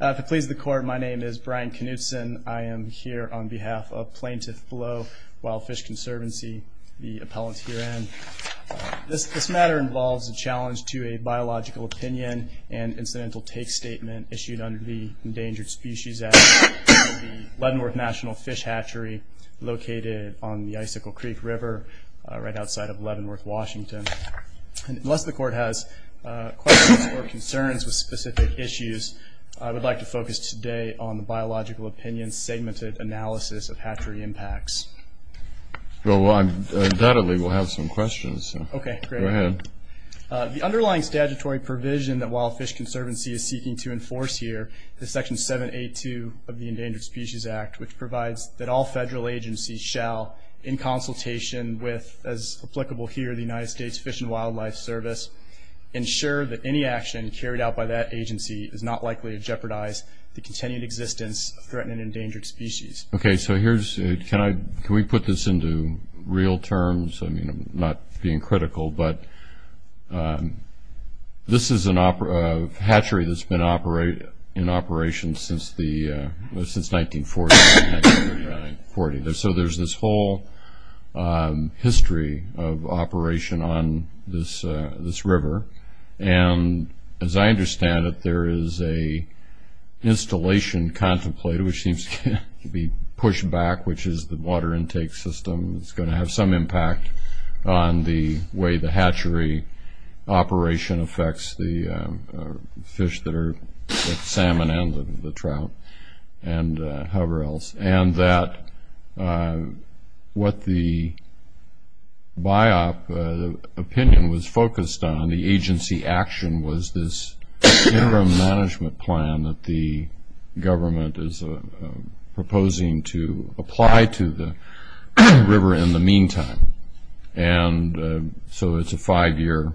If it pleases the court, my name is Brian Knutson. I am here on behalf of Plaintiff Blow, Wild Fish Conservancy, the appellant herein. This matter involves a challenge to a biological opinion and incidental take statement issued under the Endangered Species Act at the Leavenworth National Fish Hatchery located on the Icicle Creek River right outside of Leavenworth, Washington. Unless the court has questions or concerns with specific issues, I would like to focus today on the biological opinion's segmented analysis of hatchery impacts. Well, undoubtedly we'll have some questions. Okay. Go ahead. The underlying statutory provision that Wild Fish Conservancy is seeking to enforce here is Section 782 of the Endangered Species Act, which provides that all federal agencies shall, in consultation with, as applicable here, the United States Fish and Wildlife Service, ensure that any action carried out by that agency is not likely to jeopardize the continued existence of threatened and endangered species. Okay, so here's, can we put this into real terms? I mean, I'm not being critical, but this is a hatchery that's been in operation since 1940. So there's this whole history of operation on this river, and as I understand it, there is a installation contemplated, which seems to be pushed back, which is the water intake system is going to have some impact on the way the hatchery operation affects the fish that are salmon and the trout and however else. And that what the BIOP opinion was focused on, the agency action, was this interim management plan that the government is proposing to apply to the river in the meantime. And so it's a five-year,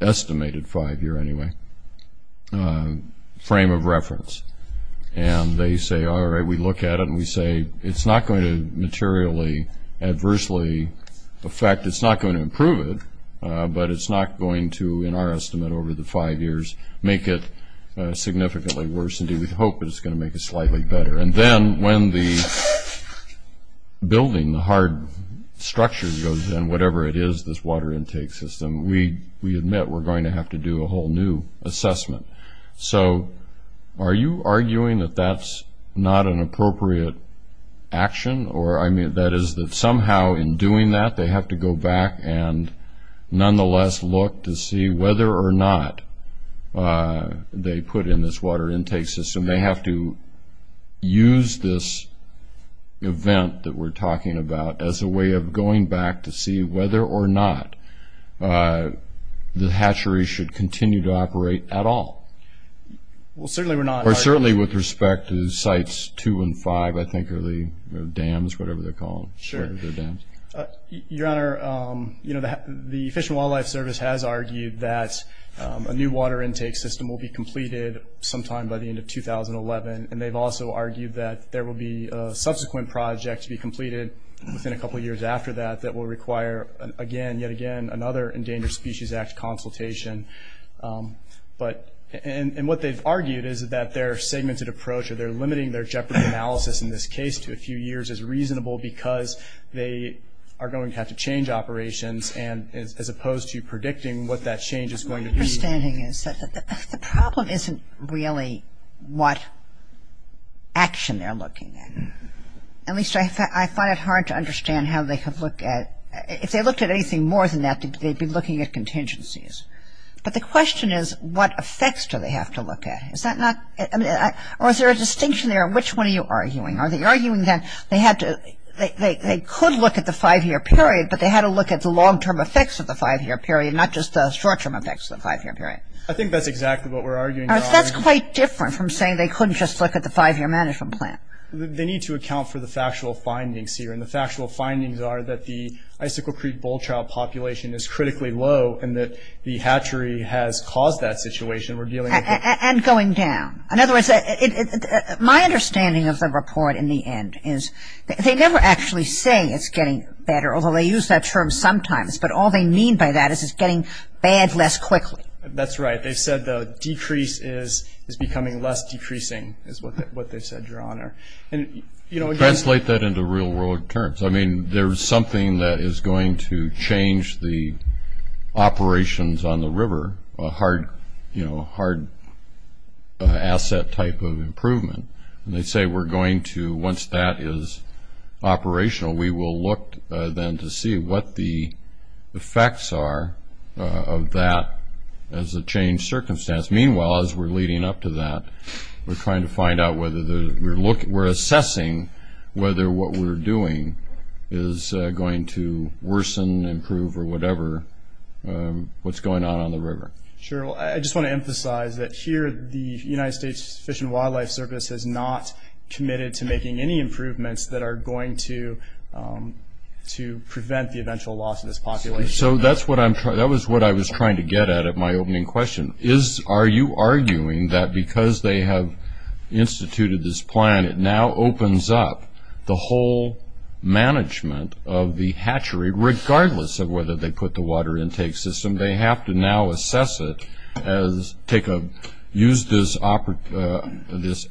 estimated five-year anyway, frame of reference. And they say, all right, we look at it and we say it's not going to materially adversely affect, it's not going to improve it, but it's not going to, in our estimate over the five years, make it significantly worse. Indeed, we hope it's going to make it slightly better. And then when the building, the hard structure goes in, whatever it is, this water intake system, we admit we're going to have to do a whole new assessment. So are you arguing that that's not an appropriate action? Or that is that somehow in doing that they have to go back and nonetheless look to see whether or not they put in this water intake system. They have to use this event that we're talking about as a way of going back to see whether or not the hatchery should continue to operate at all. Well, certainly we're not. Or certainly with respect to Sites 2 and 5, I think, or the dams, whatever they're called. Sure. Your Honor, you know, the Fish and Wildlife Service has argued that a new water intake system will be completed sometime by the end of 2011. And they've also argued that there will be a subsequent project to be completed within a couple years after that that will require, again, yet again, another Endangered Species Act consultation. But, and what they've argued is that their segmented approach or their limiting their jeopardy analysis in this case to a few years is reasonable because they are going to have to change operations as opposed to predicting what that change is going to be. My understanding is that the problem isn't really what action they're looking at. At least I find it hard to understand how they have looked at, if they looked at anything more than that, they'd be looking at contingencies. But the question is, what effects do they have to look at? Is that not, I mean, or is there a distinction there? Which one are you arguing? Are they arguing that they had to, they could look at the five-year period, but they had to look at the long-term effects of the five-year period, not just the short-term effects of the five-year period? I think that's exactly what we're arguing, Your Honor. That's quite different from saying they couldn't just look at the five-year management plan. They need to account for the factual findings here. And the factual findings are that the Icicle Creek bull trout population is critically low and that the hatchery has caused that situation. And going down. In other words, my understanding of the report in the end is they never actually say it's getting better, although they use that term sometimes. But all they mean by that is it's getting bad less quickly. That's right. They said the decrease is becoming less decreasing is what they said, Your Honor. Translate that into real-world terms. I mean, there is something that is going to change the operations on the river, a hard asset type of improvement. And they say we're going to, once that is operational, we will look then to see what the effects are of that as a changed circumstance. Meanwhile, as we're leading up to that, we're trying to find out whether we're assessing whether what we're doing is going to worsen, improve, or whatever what's going on on the river. Sure. I just want to emphasize that here the United States Fish and Wildlife Service is not committed to making any improvements that are going to prevent the eventual loss of this population. So that was what I was trying to get at at my opening question. Are you arguing that because they have instituted this plan, it now opens up the whole management of the hatchery, regardless of whether they put the water intake system, they have to now assess it, use this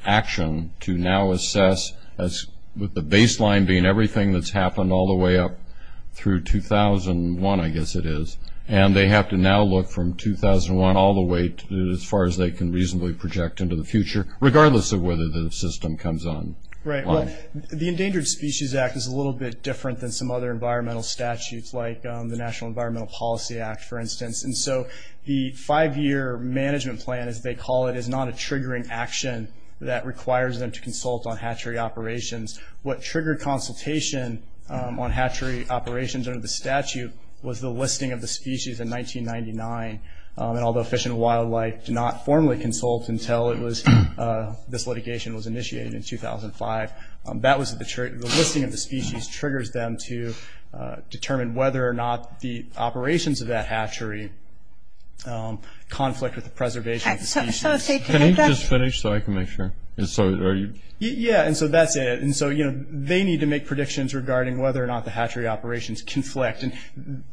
action to now assess, with the baseline being everything that's happened all the way up through 2001, I guess it is, and they have to now look from 2001 all the way to as far as they can reasonably project into the future, regardless of whether the system comes on. Right. Well, the Endangered Species Act is a little bit different than some other environmental statutes, like the National Environmental Policy Act, for instance. And so the five-year management plan, as they call it, is not a triggering action that requires them to consult on hatchery operations. What triggered consultation on hatchery operations under the statute was the listing of the species in 1999. And although Fish and Wildlife did not formally consult until this litigation was initiated in 2005, that was the listing of the species triggers them to determine whether or not the operations of that hatchery conflict with the preservation of the species. Can you just finish so I can make sure? Yeah. And so that's it. And so, you know, they need to make predictions regarding whether or not the hatchery operations conflict. And,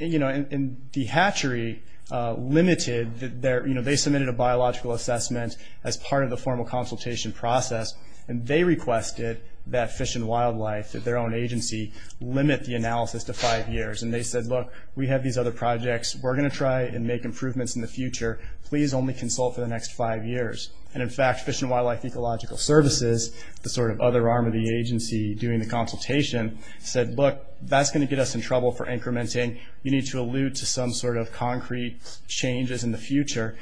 you know, the hatchery limited their, you know, they submitted a biological assessment as part of the formal consultation process, and they requested that Fish and Wildlife, their own agency, limit the analysis to five years. And they said, look, we have these other projects. We're going to try and make improvements in the future. Please only consult for the next five years. And, in fact, Fish and Wildlife Ecological Services, the sort of other arm of the agency doing the consultation, said, look, that's going to get us in trouble for incrementing. You need to allude to some sort of concrete changes in the future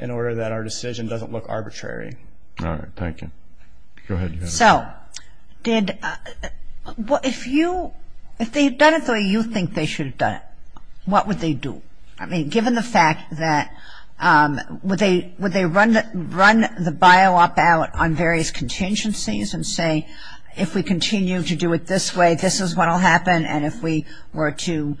in order that our decision doesn't look arbitrary. All right. Thank you. Go ahead. So did, if you, if they had done it the way you think they should have done it, what would they do? I mean, given the fact that, would they run the bio op out on various contingencies and say, if we continue to do it this way, this is what will happen, and if we were to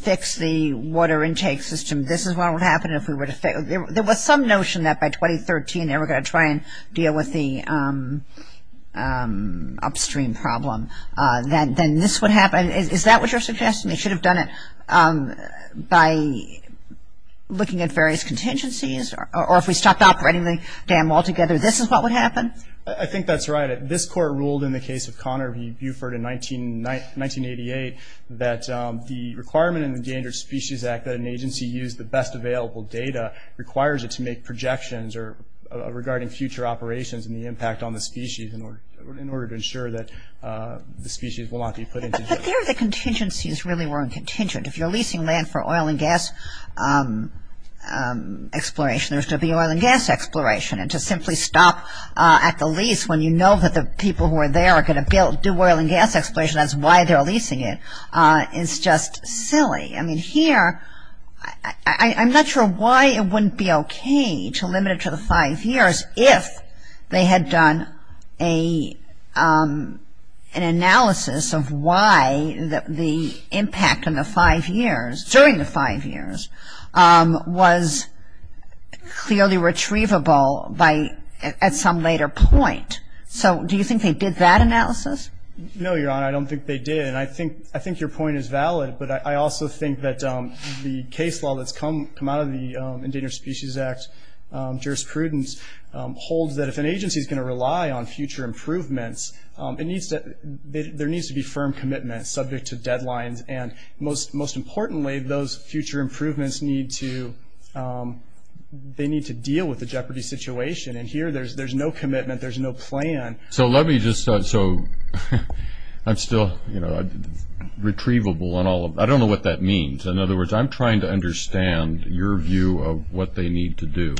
fix the water intake system, this is what would happen if we were to fix, there was some notion that by 2013 they were going to try and deal with the upstream problem. Then this would happen. Is that what you're suggesting? They should have done it by looking at various contingencies, or if we stopped operating the dam altogether, this is what would happen? I think that's right. This court ruled in the case of Conner v. Buford in 1988 that the requirement in the Endangered Species Act that an agency use the best available data requires it to make projections regarding future operations and the impact on the species in order to ensure that the species will not be put into jeopardy. But there the contingencies really weren't contingent. If you're leasing land for oil and gas exploration, there's going to be oil and gas exploration, and to simply stop at the lease when you know that the people who are there are going to do oil and gas exploration, that's why they're leasing it, is just silly. I mean, here, I'm not sure why it wouldn't be okay to limit it to the five years if they had done an analysis of why the impact in the five years, during the five years, was clearly retrievable at some later point. So do you think they did that analysis? No, Your Honor, I don't think they did. And I think your point is valid, but I also think that the case law that's come out of the Endangered Species Act jurisprudence holds that if an agency is going to rely on future improvements, there needs to be firm commitment subject to deadlines, and most importantly, those future improvements need to deal with the jeopardy situation, and here there's no commitment, there's no plan. So let me just start. So I'm still, you know, retrievable on all of them. I don't know what that means. In other words, I'm trying to understand your view of what they need to do,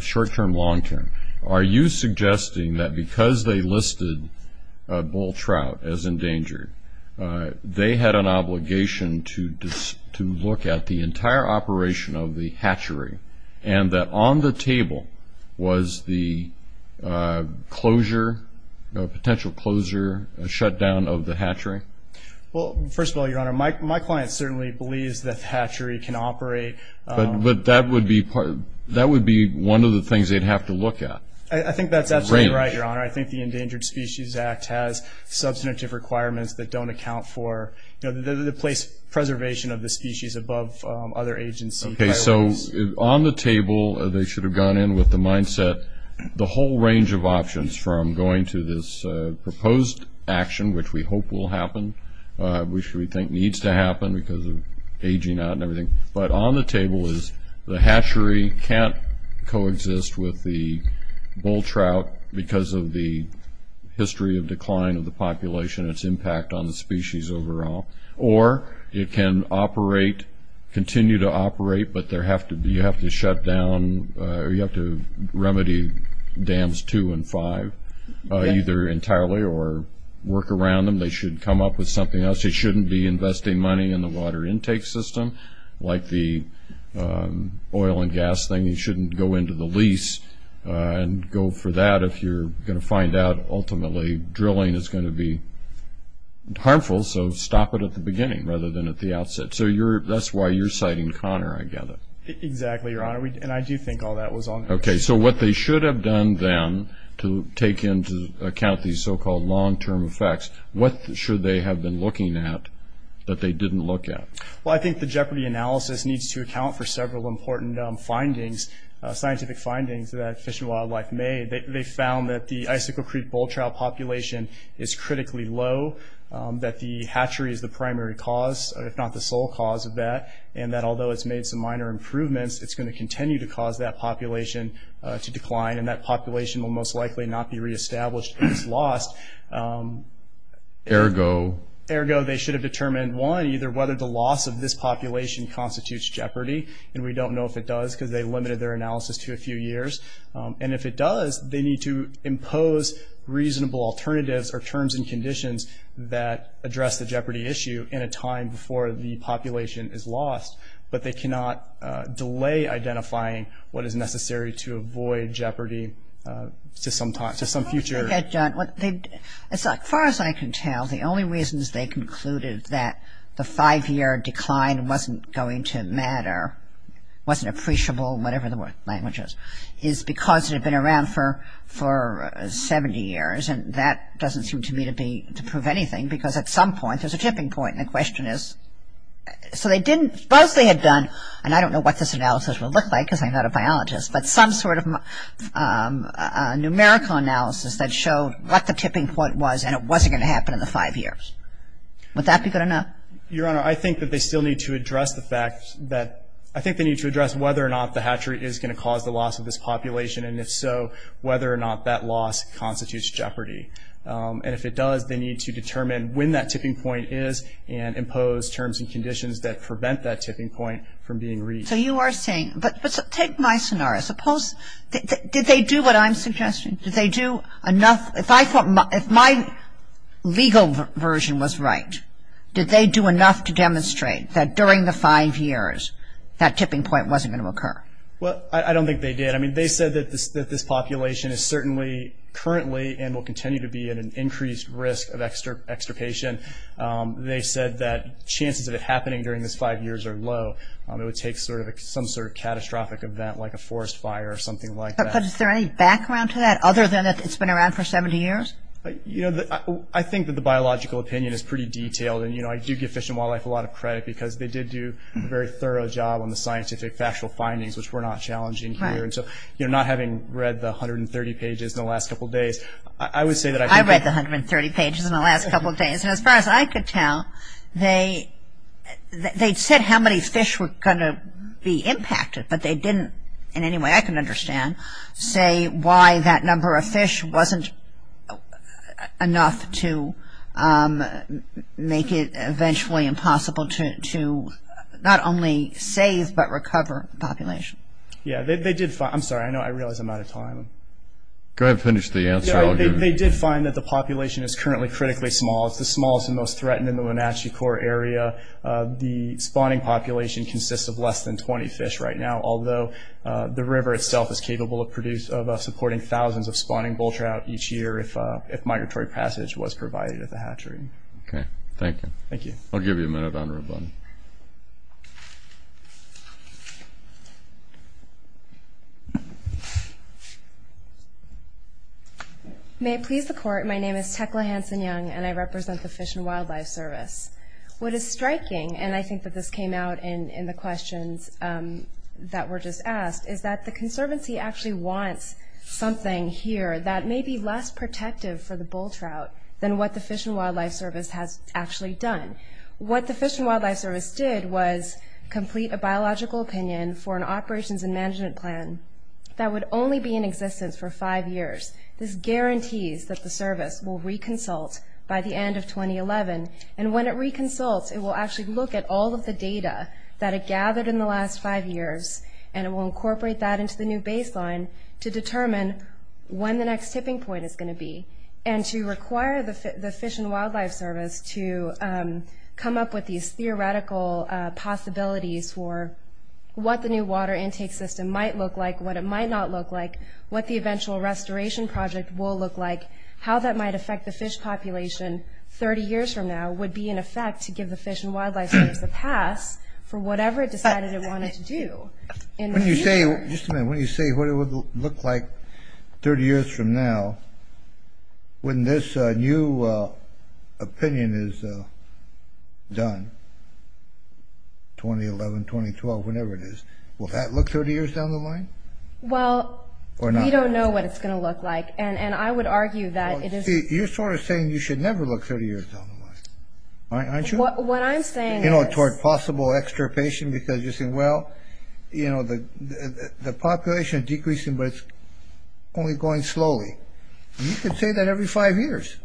short-term, long-term. Are you suggesting that because they listed bull trout as endangered, they had an obligation to look at the entire operation of the hatchery, and that on the table was the closure, potential closure, shutdown of the hatchery? Well, first of all, Your Honor, my client certainly believes that the hatchery can operate. But that would be one of the things they'd have to look at. I think that's absolutely right, Your Honor. I think the Endangered Species Act has substantive requirements that don't account for, you know, the preservation of the species above other agency priorities. Okay, so on the table, they should have gone in with the mindset, the whole range of options from going to this proposed action, which we hope will happen, which we think needs to happen because of aging out and everything, but on the table is the hatchery can't coexist with the bull trout because of the history of decline of the population, its impact on the species overall, or it can operate, continue to operate, but you have to shut down, you have to remedy dams two and five either entirely or work around them. They should come up with something else. They shouldn't be investing money in the water intake system like the oil and gas thing. You shouldn't go into the lease and go for that if you're going to find out ultimately drilling is going to be harmful. So stop it at the beginning rather than at the outset. So that's why you're citing Connor, I gather. Exactly, Your Honor, and I do think all that was on the table. Okay, so what they should have done then to take into account these so-called long-term effects, what should they have been looking at that they didn't look at? Well, I think the Jeopardy analysis needs to account for several important findings, scientific findings that Fish and Wildlife made. They found that the Icicle Creek bull trout population is critically low, that the hatchery is the primary cause, if not the sole cause of that, and that although it's made some minor improvements, it's going to continue to cause that population to decline, and that population will most likely not be reestablished if it's lost. Ergo? Ergo, they should have determined, one, either whether the loss of this population constitutes jeopardy, and we don't know if it does because they limited their analysis to a few years, and if it does, they need to impose reasonable alternatives or terms and conditions that address the jeopardy issue in a time before the population is lost, but they cannot delay identifying what is necessary to avoid jeopardy to some future. Okay, John, as far as I can tell, the only reasons they concluded that the five-year decline wasn't going to matter, wasn't appreciable, whatever the language is, is because it had been around for 70 years, and that doesn't seem to me to prove anything because at some point there's a tipping point, and the question is, so they didn't, suppose they had done, and I don't know what this analysis would look like because I'm not a biologist, but some sort of numerical analysis that showed what the tipping point was and it wasn't going to happen in the five years. Would that be good enough? Your Honor, I think that they still need to address the fact that, I think they need to address whether or not the hatchery is going to cause the loss of this population, and if so, whether or not that loss constitutes jeopardy. And if it does, they need to determine when that tipping point is and impose terms and conditions that prevent that tipping point from being reached. So you are saying, but take my scenario. Suppose, did they do what I'm suggesting? Did they do enough, if I thought, if my legal version was right, did they do enough to demonstrate that during the five years that tipping point wasn't going to occur? Well, I don't think they did. I mean, they said that this population is certainly currently and will continue to be at an increased risk of extirpation. They said that chances of it happening during this five years are low. It would take some sort of catastrophic event like a forest fire or something like that. But is there any background to that other than that it's been around for 70 years? You know, I think that the biological opinion is pretty detailed. And, you know, I do give Fish and Wildlife a lot of credit because they did do a very thorough job on the scientific factual findings, which were not challenging here. And so, you know, not having read the 130 pages in the last couple of days, I would say that I think that I read the 130 pages in the last couple of days. And as far as I could tell, they said how many fish were going to be impacted, but they didn't in any way I can understand say why that number of fish wasn't enough to make it eventually impossible to not only save but recover population. Yeah, they did find – I'm sorry. I know I realize I'm out of time. Go ahead and finish the answer. They did find that the population is currently critically small. It's the smallest and most threatened in the Wenatchee Corps area. The spawning population consists of less than 20 fish right now, although the river itself is capable of supporting thousands of spawning bull trout each year if migratory passage was provided at the hatchery. Okay. Thank you. Thank you. I'll give you a minute on rebuttal. May it please the Court, my name is Tekla Hanson-Young, and I represent the Fish and Wildlife Service. What is striking, and I think that this came out in the questions that were just asked, is that the Conservancy actually wants something here that may be less protective for the bull trout than what the Fish and Wildlife Service has actually done. What the Fish and Wildlife Service did was complete a biological opinion for an operations and management plan that would only be in existence for five years. This guarantees that the service will reconsult by the end of 2011, and when it reconsults, it will actually look at all of the data that it gathered in the last five years, and it will incorporate that into the new baseline to determine when the next tipping point is going to be, and to require the Fish and Wildlife Service to come up with these theoretical possibilities for what the new water intake system might look like, what it might not look like, what the eventual restoration project will look like, how that might affect the fish population 30 years from now would be in effect to give the Fish and Wildlife Service a pass for whatever it decided it wanted to do. When you say, just a minute, when you say what it would look like 30 years from now, when this new opinion is done, 2011, 2012, whenever it is, will that look 30 years down the line? Well, we don't know what it's going to look like, and I would argue that it is... You're sort of saying you should never look 30 years down the line, aren't you? What I'm saying is... You know, toward possible extirpation, because you're saying, well, you know, the population is decreasing, but it's only going slowly. You could say that every five years.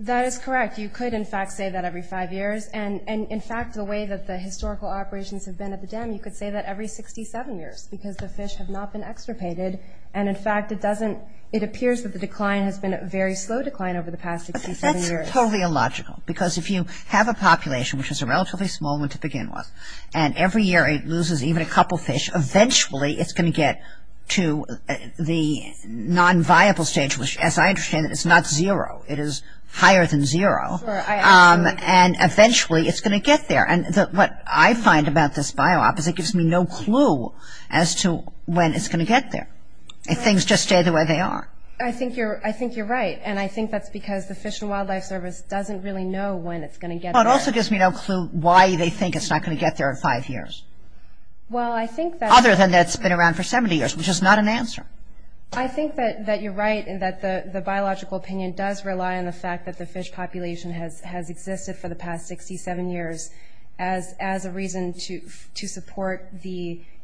That is correct. You could, in fact, say that every five years, and in fact, the way that the historical operations have been at the dam, you could say that every 67 years, because the fish have not been extirpated, and in fact, it appears that the decline has been a very slow decline over the past 67 years. That's totally illogical, because if you have a population, which is a relatively small one to begin with, and every year it loses even a couple fish, eventually it's going to get to the non-viable stage, which, as I understand it, is not zero. It is higher than zero, and eventually it's going to get there. And what I find about this bio-op is it gives me no clue as to when it's going to get there, if things just stay the way they are. I think you're right, and I think that's because the Fish and Wildlife Service doesn't really know when it's going to get there. Well, it also gives me no clue why they think it's not going to get there in five years, other than that it's been around for 70 years, which is not an answer. I think that you're right, and that the biological opinion does rely on the fact that the fish population has existed for the past 67 years as a reason to support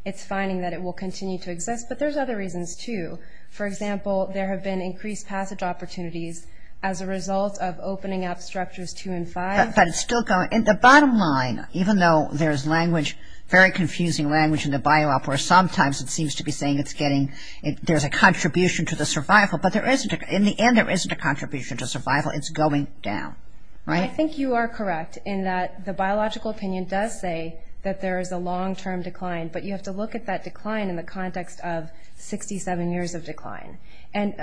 its finding that it will continue to exist. But there's other reasons, too. For example, there have been increased passage opportunities as a result of opening up structures two and five. But it's still going. The bottom line, even though there's language, very confusing language in the bio-op, where sometimes it seems to be saying there's a contribution to the survival, but in the end there isn't a contribution to survival. It's going down. Right? I think you are correct in that the biological opinion does say that there is a long-term decline, but you have to look at that decline in the context of 67 years of decline. And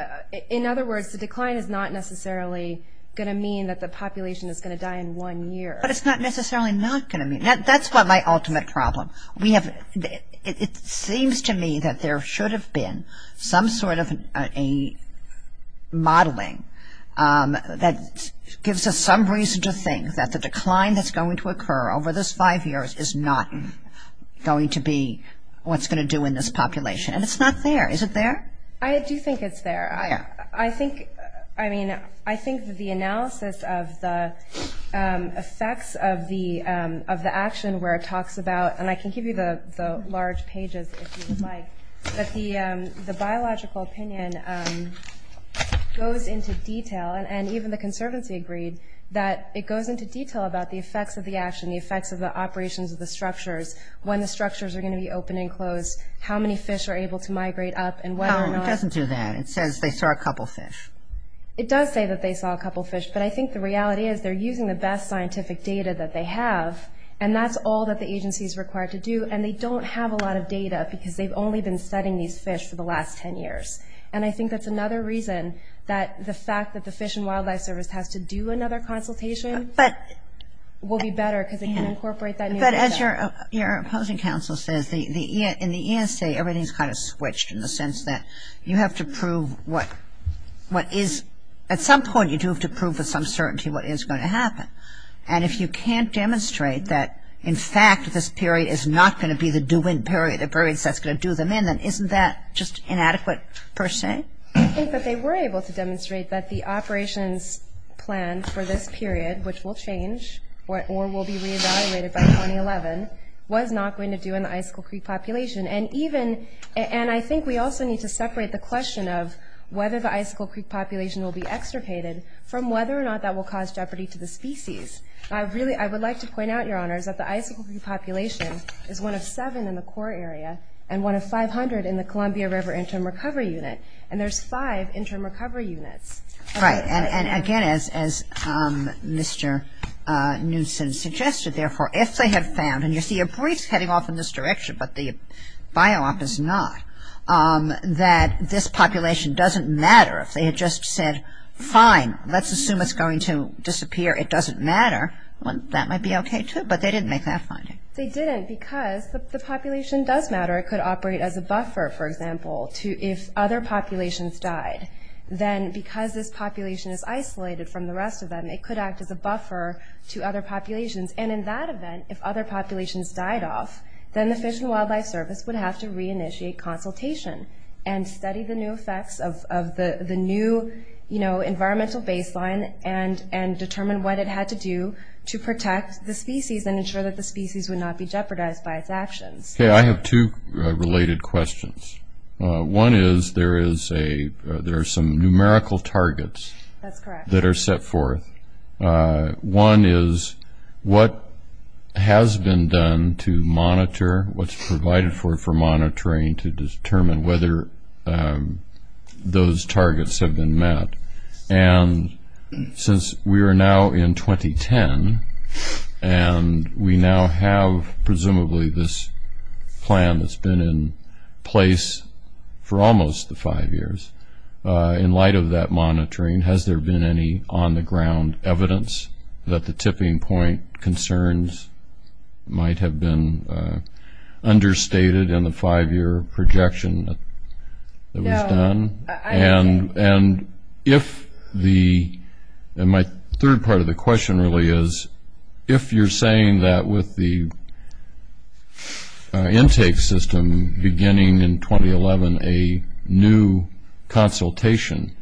in other words, the decline is not necessarily going to mean that the population is going to die in one year. But it's not necessarily not going to mean that. That's my ultimate problem. It seems to me that there should have been some sort of a modeling that gives us some reason to think that the decline that's going to occur over those five years is not going to be what's going to do in this population. And it's not there. Is it there? I do think it's there. I think, I mean, I think the analysis of the effects of the action where it talks about, and I can give you the large pages if you would like, but the biological opinion goes into detail, and even the Conservancy agreed, that it goes into detail about the effects of the action, the effects of the operations of the structures, when the structures are going to be open and closed, how many fish are able to migrate up, and whether or not. It doesn't do that. It says they saw a couple fish. It does say that they saw a couple fish. But I think the reality is they're using the best scientific data that they have, and that's all that the agency is required to do. And they don't have a lot of data because they've only been studying these fish for the last 10 years. And I think that's another reason that the fact that the Fish and Wildlife Service has to do another consultation. But. Will be better because it can incorporate that new data. But as your opposing counsel says, in the ESA, everything is kind of switched in the sense that you have to prove what is, at some point you do have to prove with some certainty what is going to happen. And if you can't demonstrate that, in fact, this period is not going to be the do-in period, the period that's going to do them in, then isn't that just inadequate per se? I think that they were able to demonstrate that the operations plan for this period, which will change or will be reevaluated by 2011, was not going to do in the Icicle Creek population. And even, and I think we also need to separate the question of whether the Icicle Creek population will be extricated from whether or not that will cause jeopardy to the species. I really, I would like to point out, Your Honors, that the Icicle Creek population is one of seven in the core area and one of 500 in the Columbia River Interim Recovery Unit. And there's five Interim Recovery Units. Right. And again, as Mr. Newson suggested, therefore, if they have found, and you see a brief heading off in this direction, but the bio-op is not, that this population doesn't matter, if they had just said, fine, let's assume it's going to disappear, it doesn't matter, well, that might be okay, too, but they didn't make that finding. They didn't because the population does matter. It could operate as a buffer, for example, to if other populations died, then because this population is isolated from the rest of them, it could act as a buffer to other populations. And in that event, if other populations died off, then the Fish and Wildlife Service would have to reinitiate consultation and study the new effects of the new, you know, environmental baseline and determine what it had to do to protect the species and ensure that the species would not be jeopardized by its actions. Okay. I have two related questions. One is there is a – there are some numerical targets. That's correct. That are set forth. One is what has been done to monitor, what's provided for monitoring to determine whether those targets have been met. And since we are now in 2010, and we now have presumably this plan that's been in place for almost the five years, in light of that monitoring, has there been any on-the-ground evidence that the tipping point concerns might have been understated in the five-year projection that was done? And if the – and my third part of the question really is, if you're saying that with the intake system beginning in 2011, a new consultation,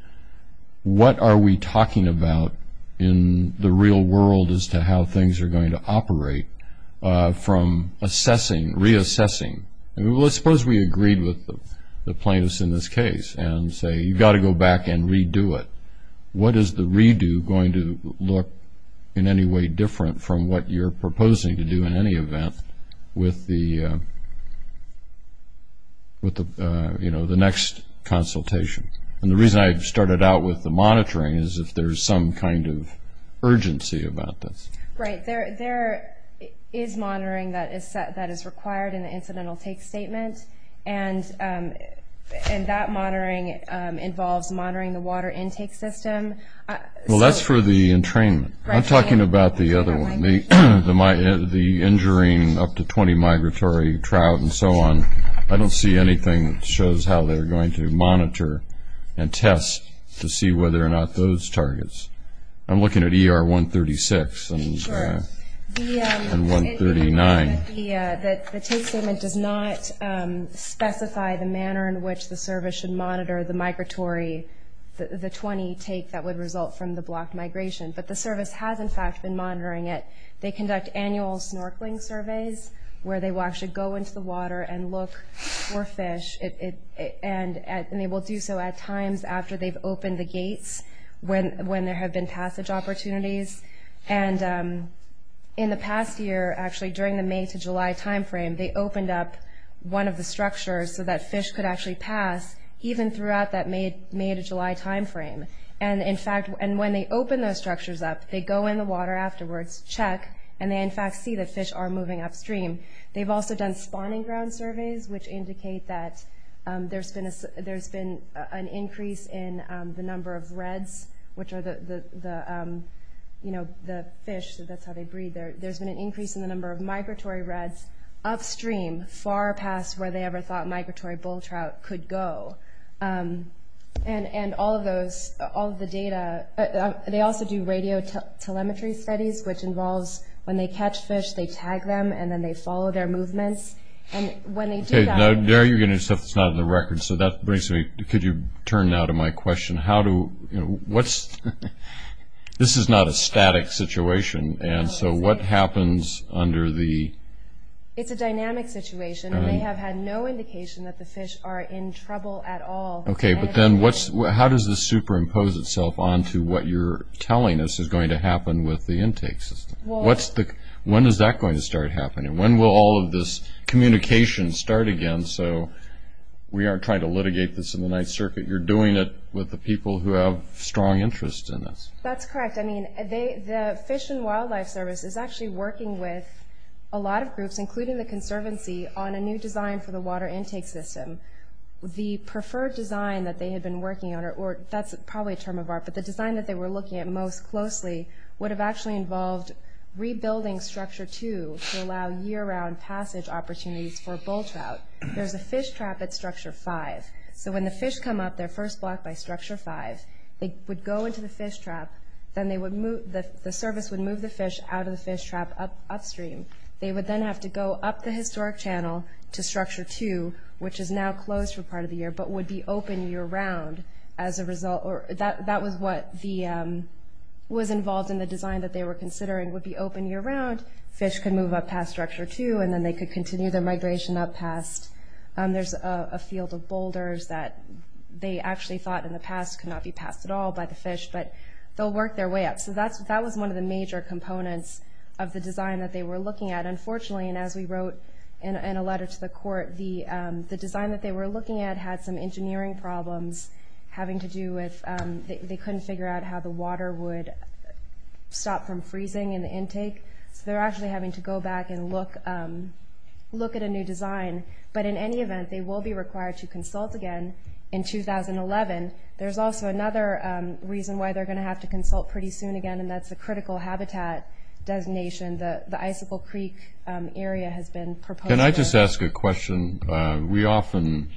what are we talking about in the real world as to how things are going to operate from assessing, reassessing? Well, let's suppose we agreed with the plaintiffs in this case and say you've got to go back and redo it. What is the redo going to look in any way different from what you're proposing to do in any event with the next consultation? And the reason I started out with the monitoring is if there's some kind of urgency about this. Right, there is monitoring that is required in the incidental take statement, and that monitoring involves monitoring the water intake system. Well, that's for the entrainment. I'm talking about the other one, the injuring up to 20 migratory trout and so on. I don't see anything that shows how they're going to monitor and test to see whether or not those targets. I'm looking at ER 136 and 139. The take statement does not specify the manner in which the service should monitor the migratory, the 20 take that would result from the blocked migration, but the service has, in fact, been monitoring it. They conduct annual snorkeling surveys where they should go into the water and look for fish, and they will do so at times after they've opened the gates when there have been passage opportunities. And in the past year, actually, during the May to July timeframe, they opened up one of the structures so that fish could actually pass even throughout that May to July timeframe. And, in fact, when they open those structures up, they go in the water afterwards, check, and they, in fact, see that fish are moving upstream. They've also done spawning ground surveys, which indicate that there's been an increase in the number of reds, which are the fish, so that's how they breed. There's been an increase in the number of migratory reds upstream, far past where they ever thought migratory bull trout could go. And all of those, all of the data, they also do radio telemetry studies, which involves when they catch fish, they tag them, and then they follow their movements. And when they do that— Okay, now you're getting stuff that's not on the record, so that brings me— could you turn now to my question, how do—what's—this is not a static situation, and so what happens under the— It's a dynamic situation, and they have had no indication that the fish are in trouble at all. Okay, but then how does this superimpose itself onto what you're telling us is going to happen with the intake system? Well— When is that going to start happening? When will all of this communication start again so we aren't trying to litigate this in the Ninth Circuit? You're doing it with the people who have strong interests in this. That's correct. I mean, the Fish and Wildlife Service is actually working with a lot of groups, including the Conservancy, on a new design for the water intake system. The preferred design that they had been working on, or that's probably a term of art, but the design that they were looking at most closely would have actually involved rebuilding Structure 2 to allow year-round passage opportunities for bull trout. There's a fish trap at Structure 5, so when the fish come up their first block by Structure 5, they would go into the fish trap, then they would move— the service would move the fish out of the fish trap upstream. They would then have to go up the historic channel to Structure 2, which is now closed for part of the year but would be open year-round as a result— that was what was involved in the design that they were considering would be open year-round. Fish could move up past Structure 2, and then they could continue their migration up past— there's a field of boulders that they actually thought in the past could not be passed at all by the fish, but they'll work their way up. So that was one of the major components of the design that they were looking at. Unfortunately, and as we wrote in a letter to the court, the design that they were looking at had some engineering problems having to do with— they couldn't figure out how the water would stop from freezing in the intake, so they're actually having to go back and look at a new design. But in any event, they will be required to consult again in 2011. There's also another reason why they're going to have to consult pretty soon again, and that's a critical habitat designation. The Icicle Creek area has been proposed— Can I just ask a question? We often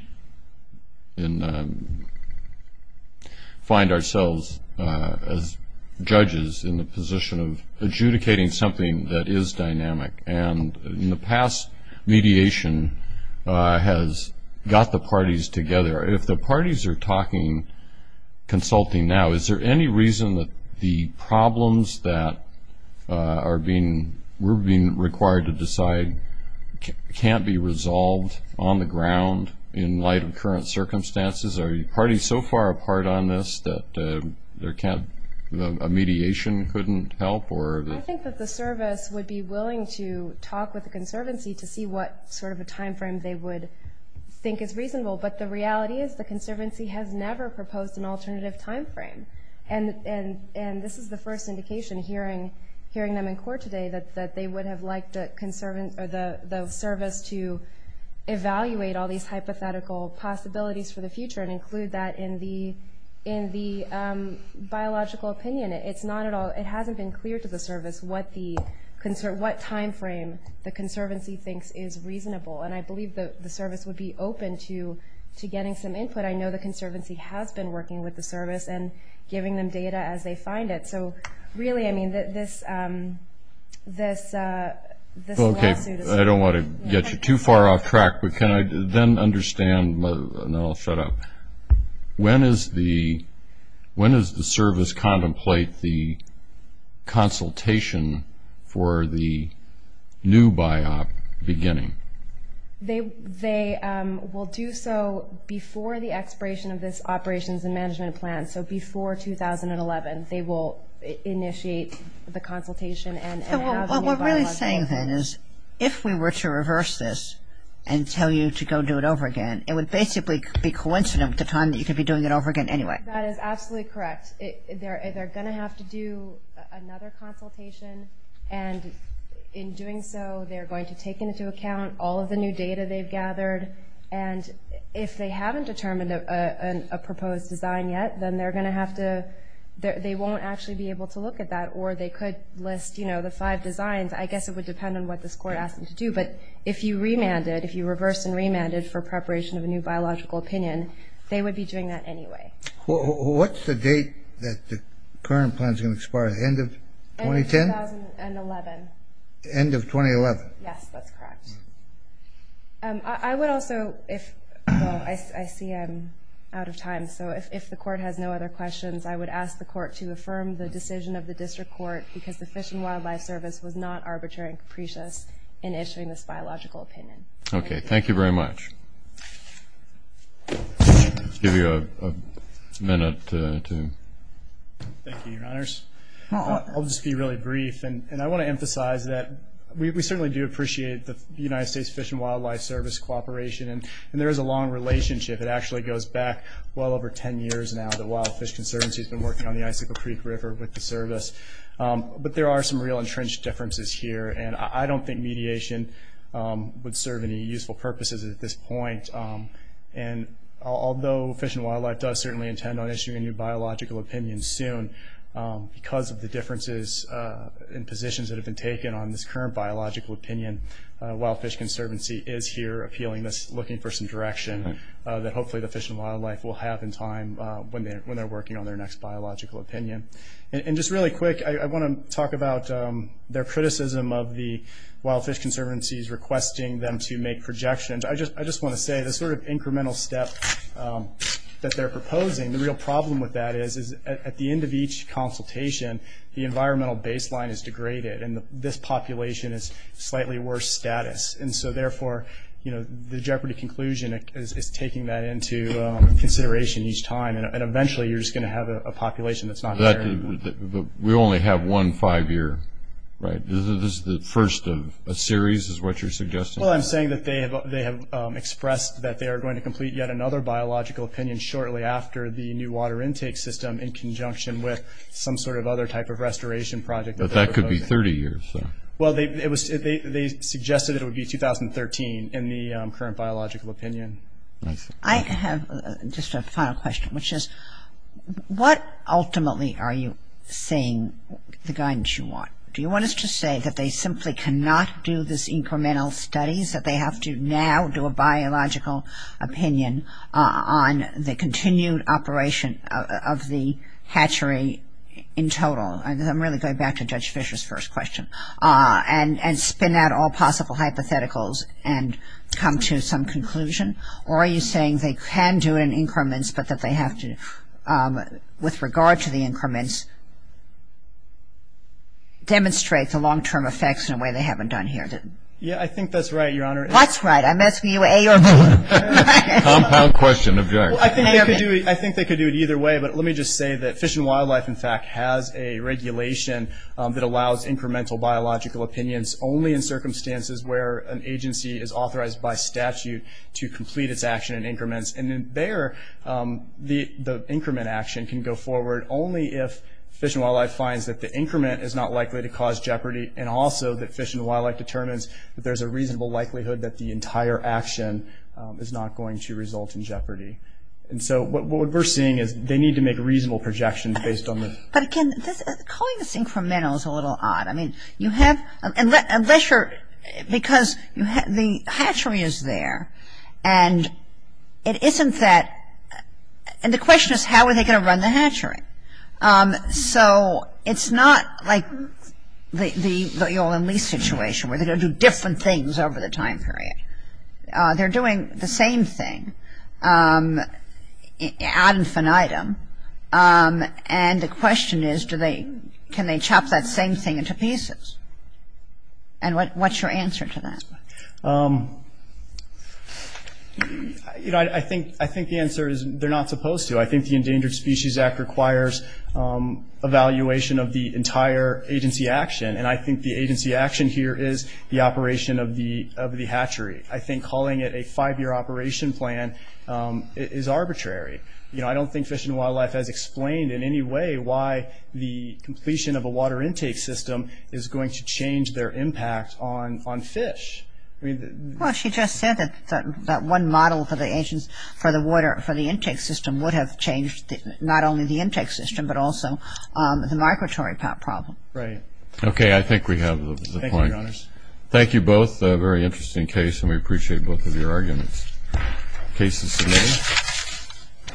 find ourselves as judges in the position of adjudicating something that is dynamic, and in the past, mediation has got the parties together. If the parties are talking, consulting now, is there any reason that the problems that we're being required to decide can't be resolved on the ground in light of current circumstances? Are the parties so far apart on this that a mediation couldn't help? I think that the service would be willing to talk with the conservancy to see what sort of a time frame they would think is reasonable, but the reality is the conservancy has never proposed an alternative time frame. And this is the first indication, hearing them in court today, that they would have liked the service to evaluate all these hypothetical possibilities for the future and include that in the biological opinion. It hasn't been clear to the service what time frame the conservancy thinks is reasonable, and I believe the service would be open to getting some input. I know the conservancy has been working with the service and giving them data as they find it. So really, I mean, this lawsuit is— Okay, I don't want to get you too far off track, but can I then understand—and then I'll shut up. When does the service contemplate the consultation for the new biop beginning? They will do so before the expiration of this operations and management plan. So before 2011, they will initiate the consultation and have a new biological plan. What we're really saying then is if we were to reverse this and tell you to go do it over again, it would basically be coincident with the time that you could be doing it over again anyway. That is absolutely correct. They're going to have to do another consultation, and in doing so, they're going to take into account all of the new data they've gathered. And if they haven't determined a proposed design yet, then they're going to have to— they won't actually be able to look at that, or they could list, you know, the five designs. I guess it would depend on what this Court asked them to do. But if you remanded, if you reversed and remanded for preparation of a new biological opinion, they would be doing that anyway. What's the date that the current plan is going to expire? The end of 2010? End of 2011. End of 2011. Yes, that's correct. I would also—well, I see I'm out of time, so if the Court has no other questions, I would ask the Court to affirm the decision of the District Court because the Fish and Wildlife Service was not arbitrary and capricious in issuing this biological opinion. Okay. Thank you very much. I'll give you a minute to— Thank you, Your Honors. I'll just be really brief, and I want to emphasize that we certainly do appreciate the United States Fish and Wildlife Service cooperation, and there is a long relationship. It actually goes back well over 10 years now. The Wild Fish Conservancy has been working on the Icicle Creek River with the service. But there are some real entrenched differences here, and I don't think mediation would serve any useful purposes at this point. And although Fish and Wildlife does certainly intend on issuing a new biological opinion soon, because of the differences in positions that have been taken on this current biological opinion, Wild Fish Conservancy is here appealing this, looking for some direction, that hopefully the Fish and Wildlife will have in time when they're working on their next biological opinion. And just really quick, I want to talk about their criticism of the Wild Fish Conservancy's requesting them to make projections. I just want to say the sort of incremental step that they're proposing, the real problem with that is at the end of each consultation, the environmental baseline is degraded, and this population is slightly worse status. And so therefore, the Jeopardy conclusion is taking that into consideration each time, and eventually you're just going to have a population that's not there anymore. But we only have one five-year, right? This is the first of a series is what you're suggesting? Well, I'm saying that they have expressed that they are going to complete yet another biological opinion shortly after the new water intake system in conjunction with some sort of other type of restoration project. But that could be 30 years. Well, they suggested it would be 2013 in the current biological opinion. I have just a final question, which is what ultimately are you saying the guidance you want? Do you want us to say that they simply cannot do this incremental studies, that they have to now do a biological opinion on the continued operation of the hatchery in total? I'm really going back to Judge Fischer's first question. And spin out all possible hypotheticals and come to some conclusion? Or are you saying they can do it in increments, but that they have to, with regard to the increments, demonstrate the long-term effects in a way they haven't done here? Yeah, I think that's right, Your Honor. What's right? I'm asking you A or B. Compound question. I think they could do it either way, but let me just say that Fish and Wildlife, in fact, has a regulation that allows incremental biological opinions only in circumstances where an agency is authorized by statute to complete its action in increments. And there, the increment action can go forward only if Fish and Wildlife finds that the increment is not likely to cause jeopardy and also that Fish and Wildlife determines that there's a reasonable likelihood that the entire action is not going to result in jeopardy. And so what we're seeing is they need to make reasonable projections based on this. But again, calling this incremental is a little odd. I mean, you have, unless you're, because the hatchery is there, and it isn't that, and the question is how are they going to run the hatchery? So it's not like the oil and lease situation where they're going to do different things over the time period. They're doing the same thing ad infinitum, and the question is can they chop that same thing into pieces? And what's your answer to that? You know, I think the answer is they're not supposed to. I think the Endangered Species Act requires evaluation of the entire agency action, and I think the agency action here is the operation of the hatchery. I think calling it a five-year operation plan is arbitrary. You know, I don't think Fish and Wildlife has explained in any way why the completion of a water intake system is going to change their impact on fish. Well, she just said that one model for the intake system would have changed not only the intake system, but also the migratory problem. Right. Okay, I think we have the point. Thank you, Your Honors. Thank you both. A very interesting case, and we appreciate both of your arguments. Case is submitted.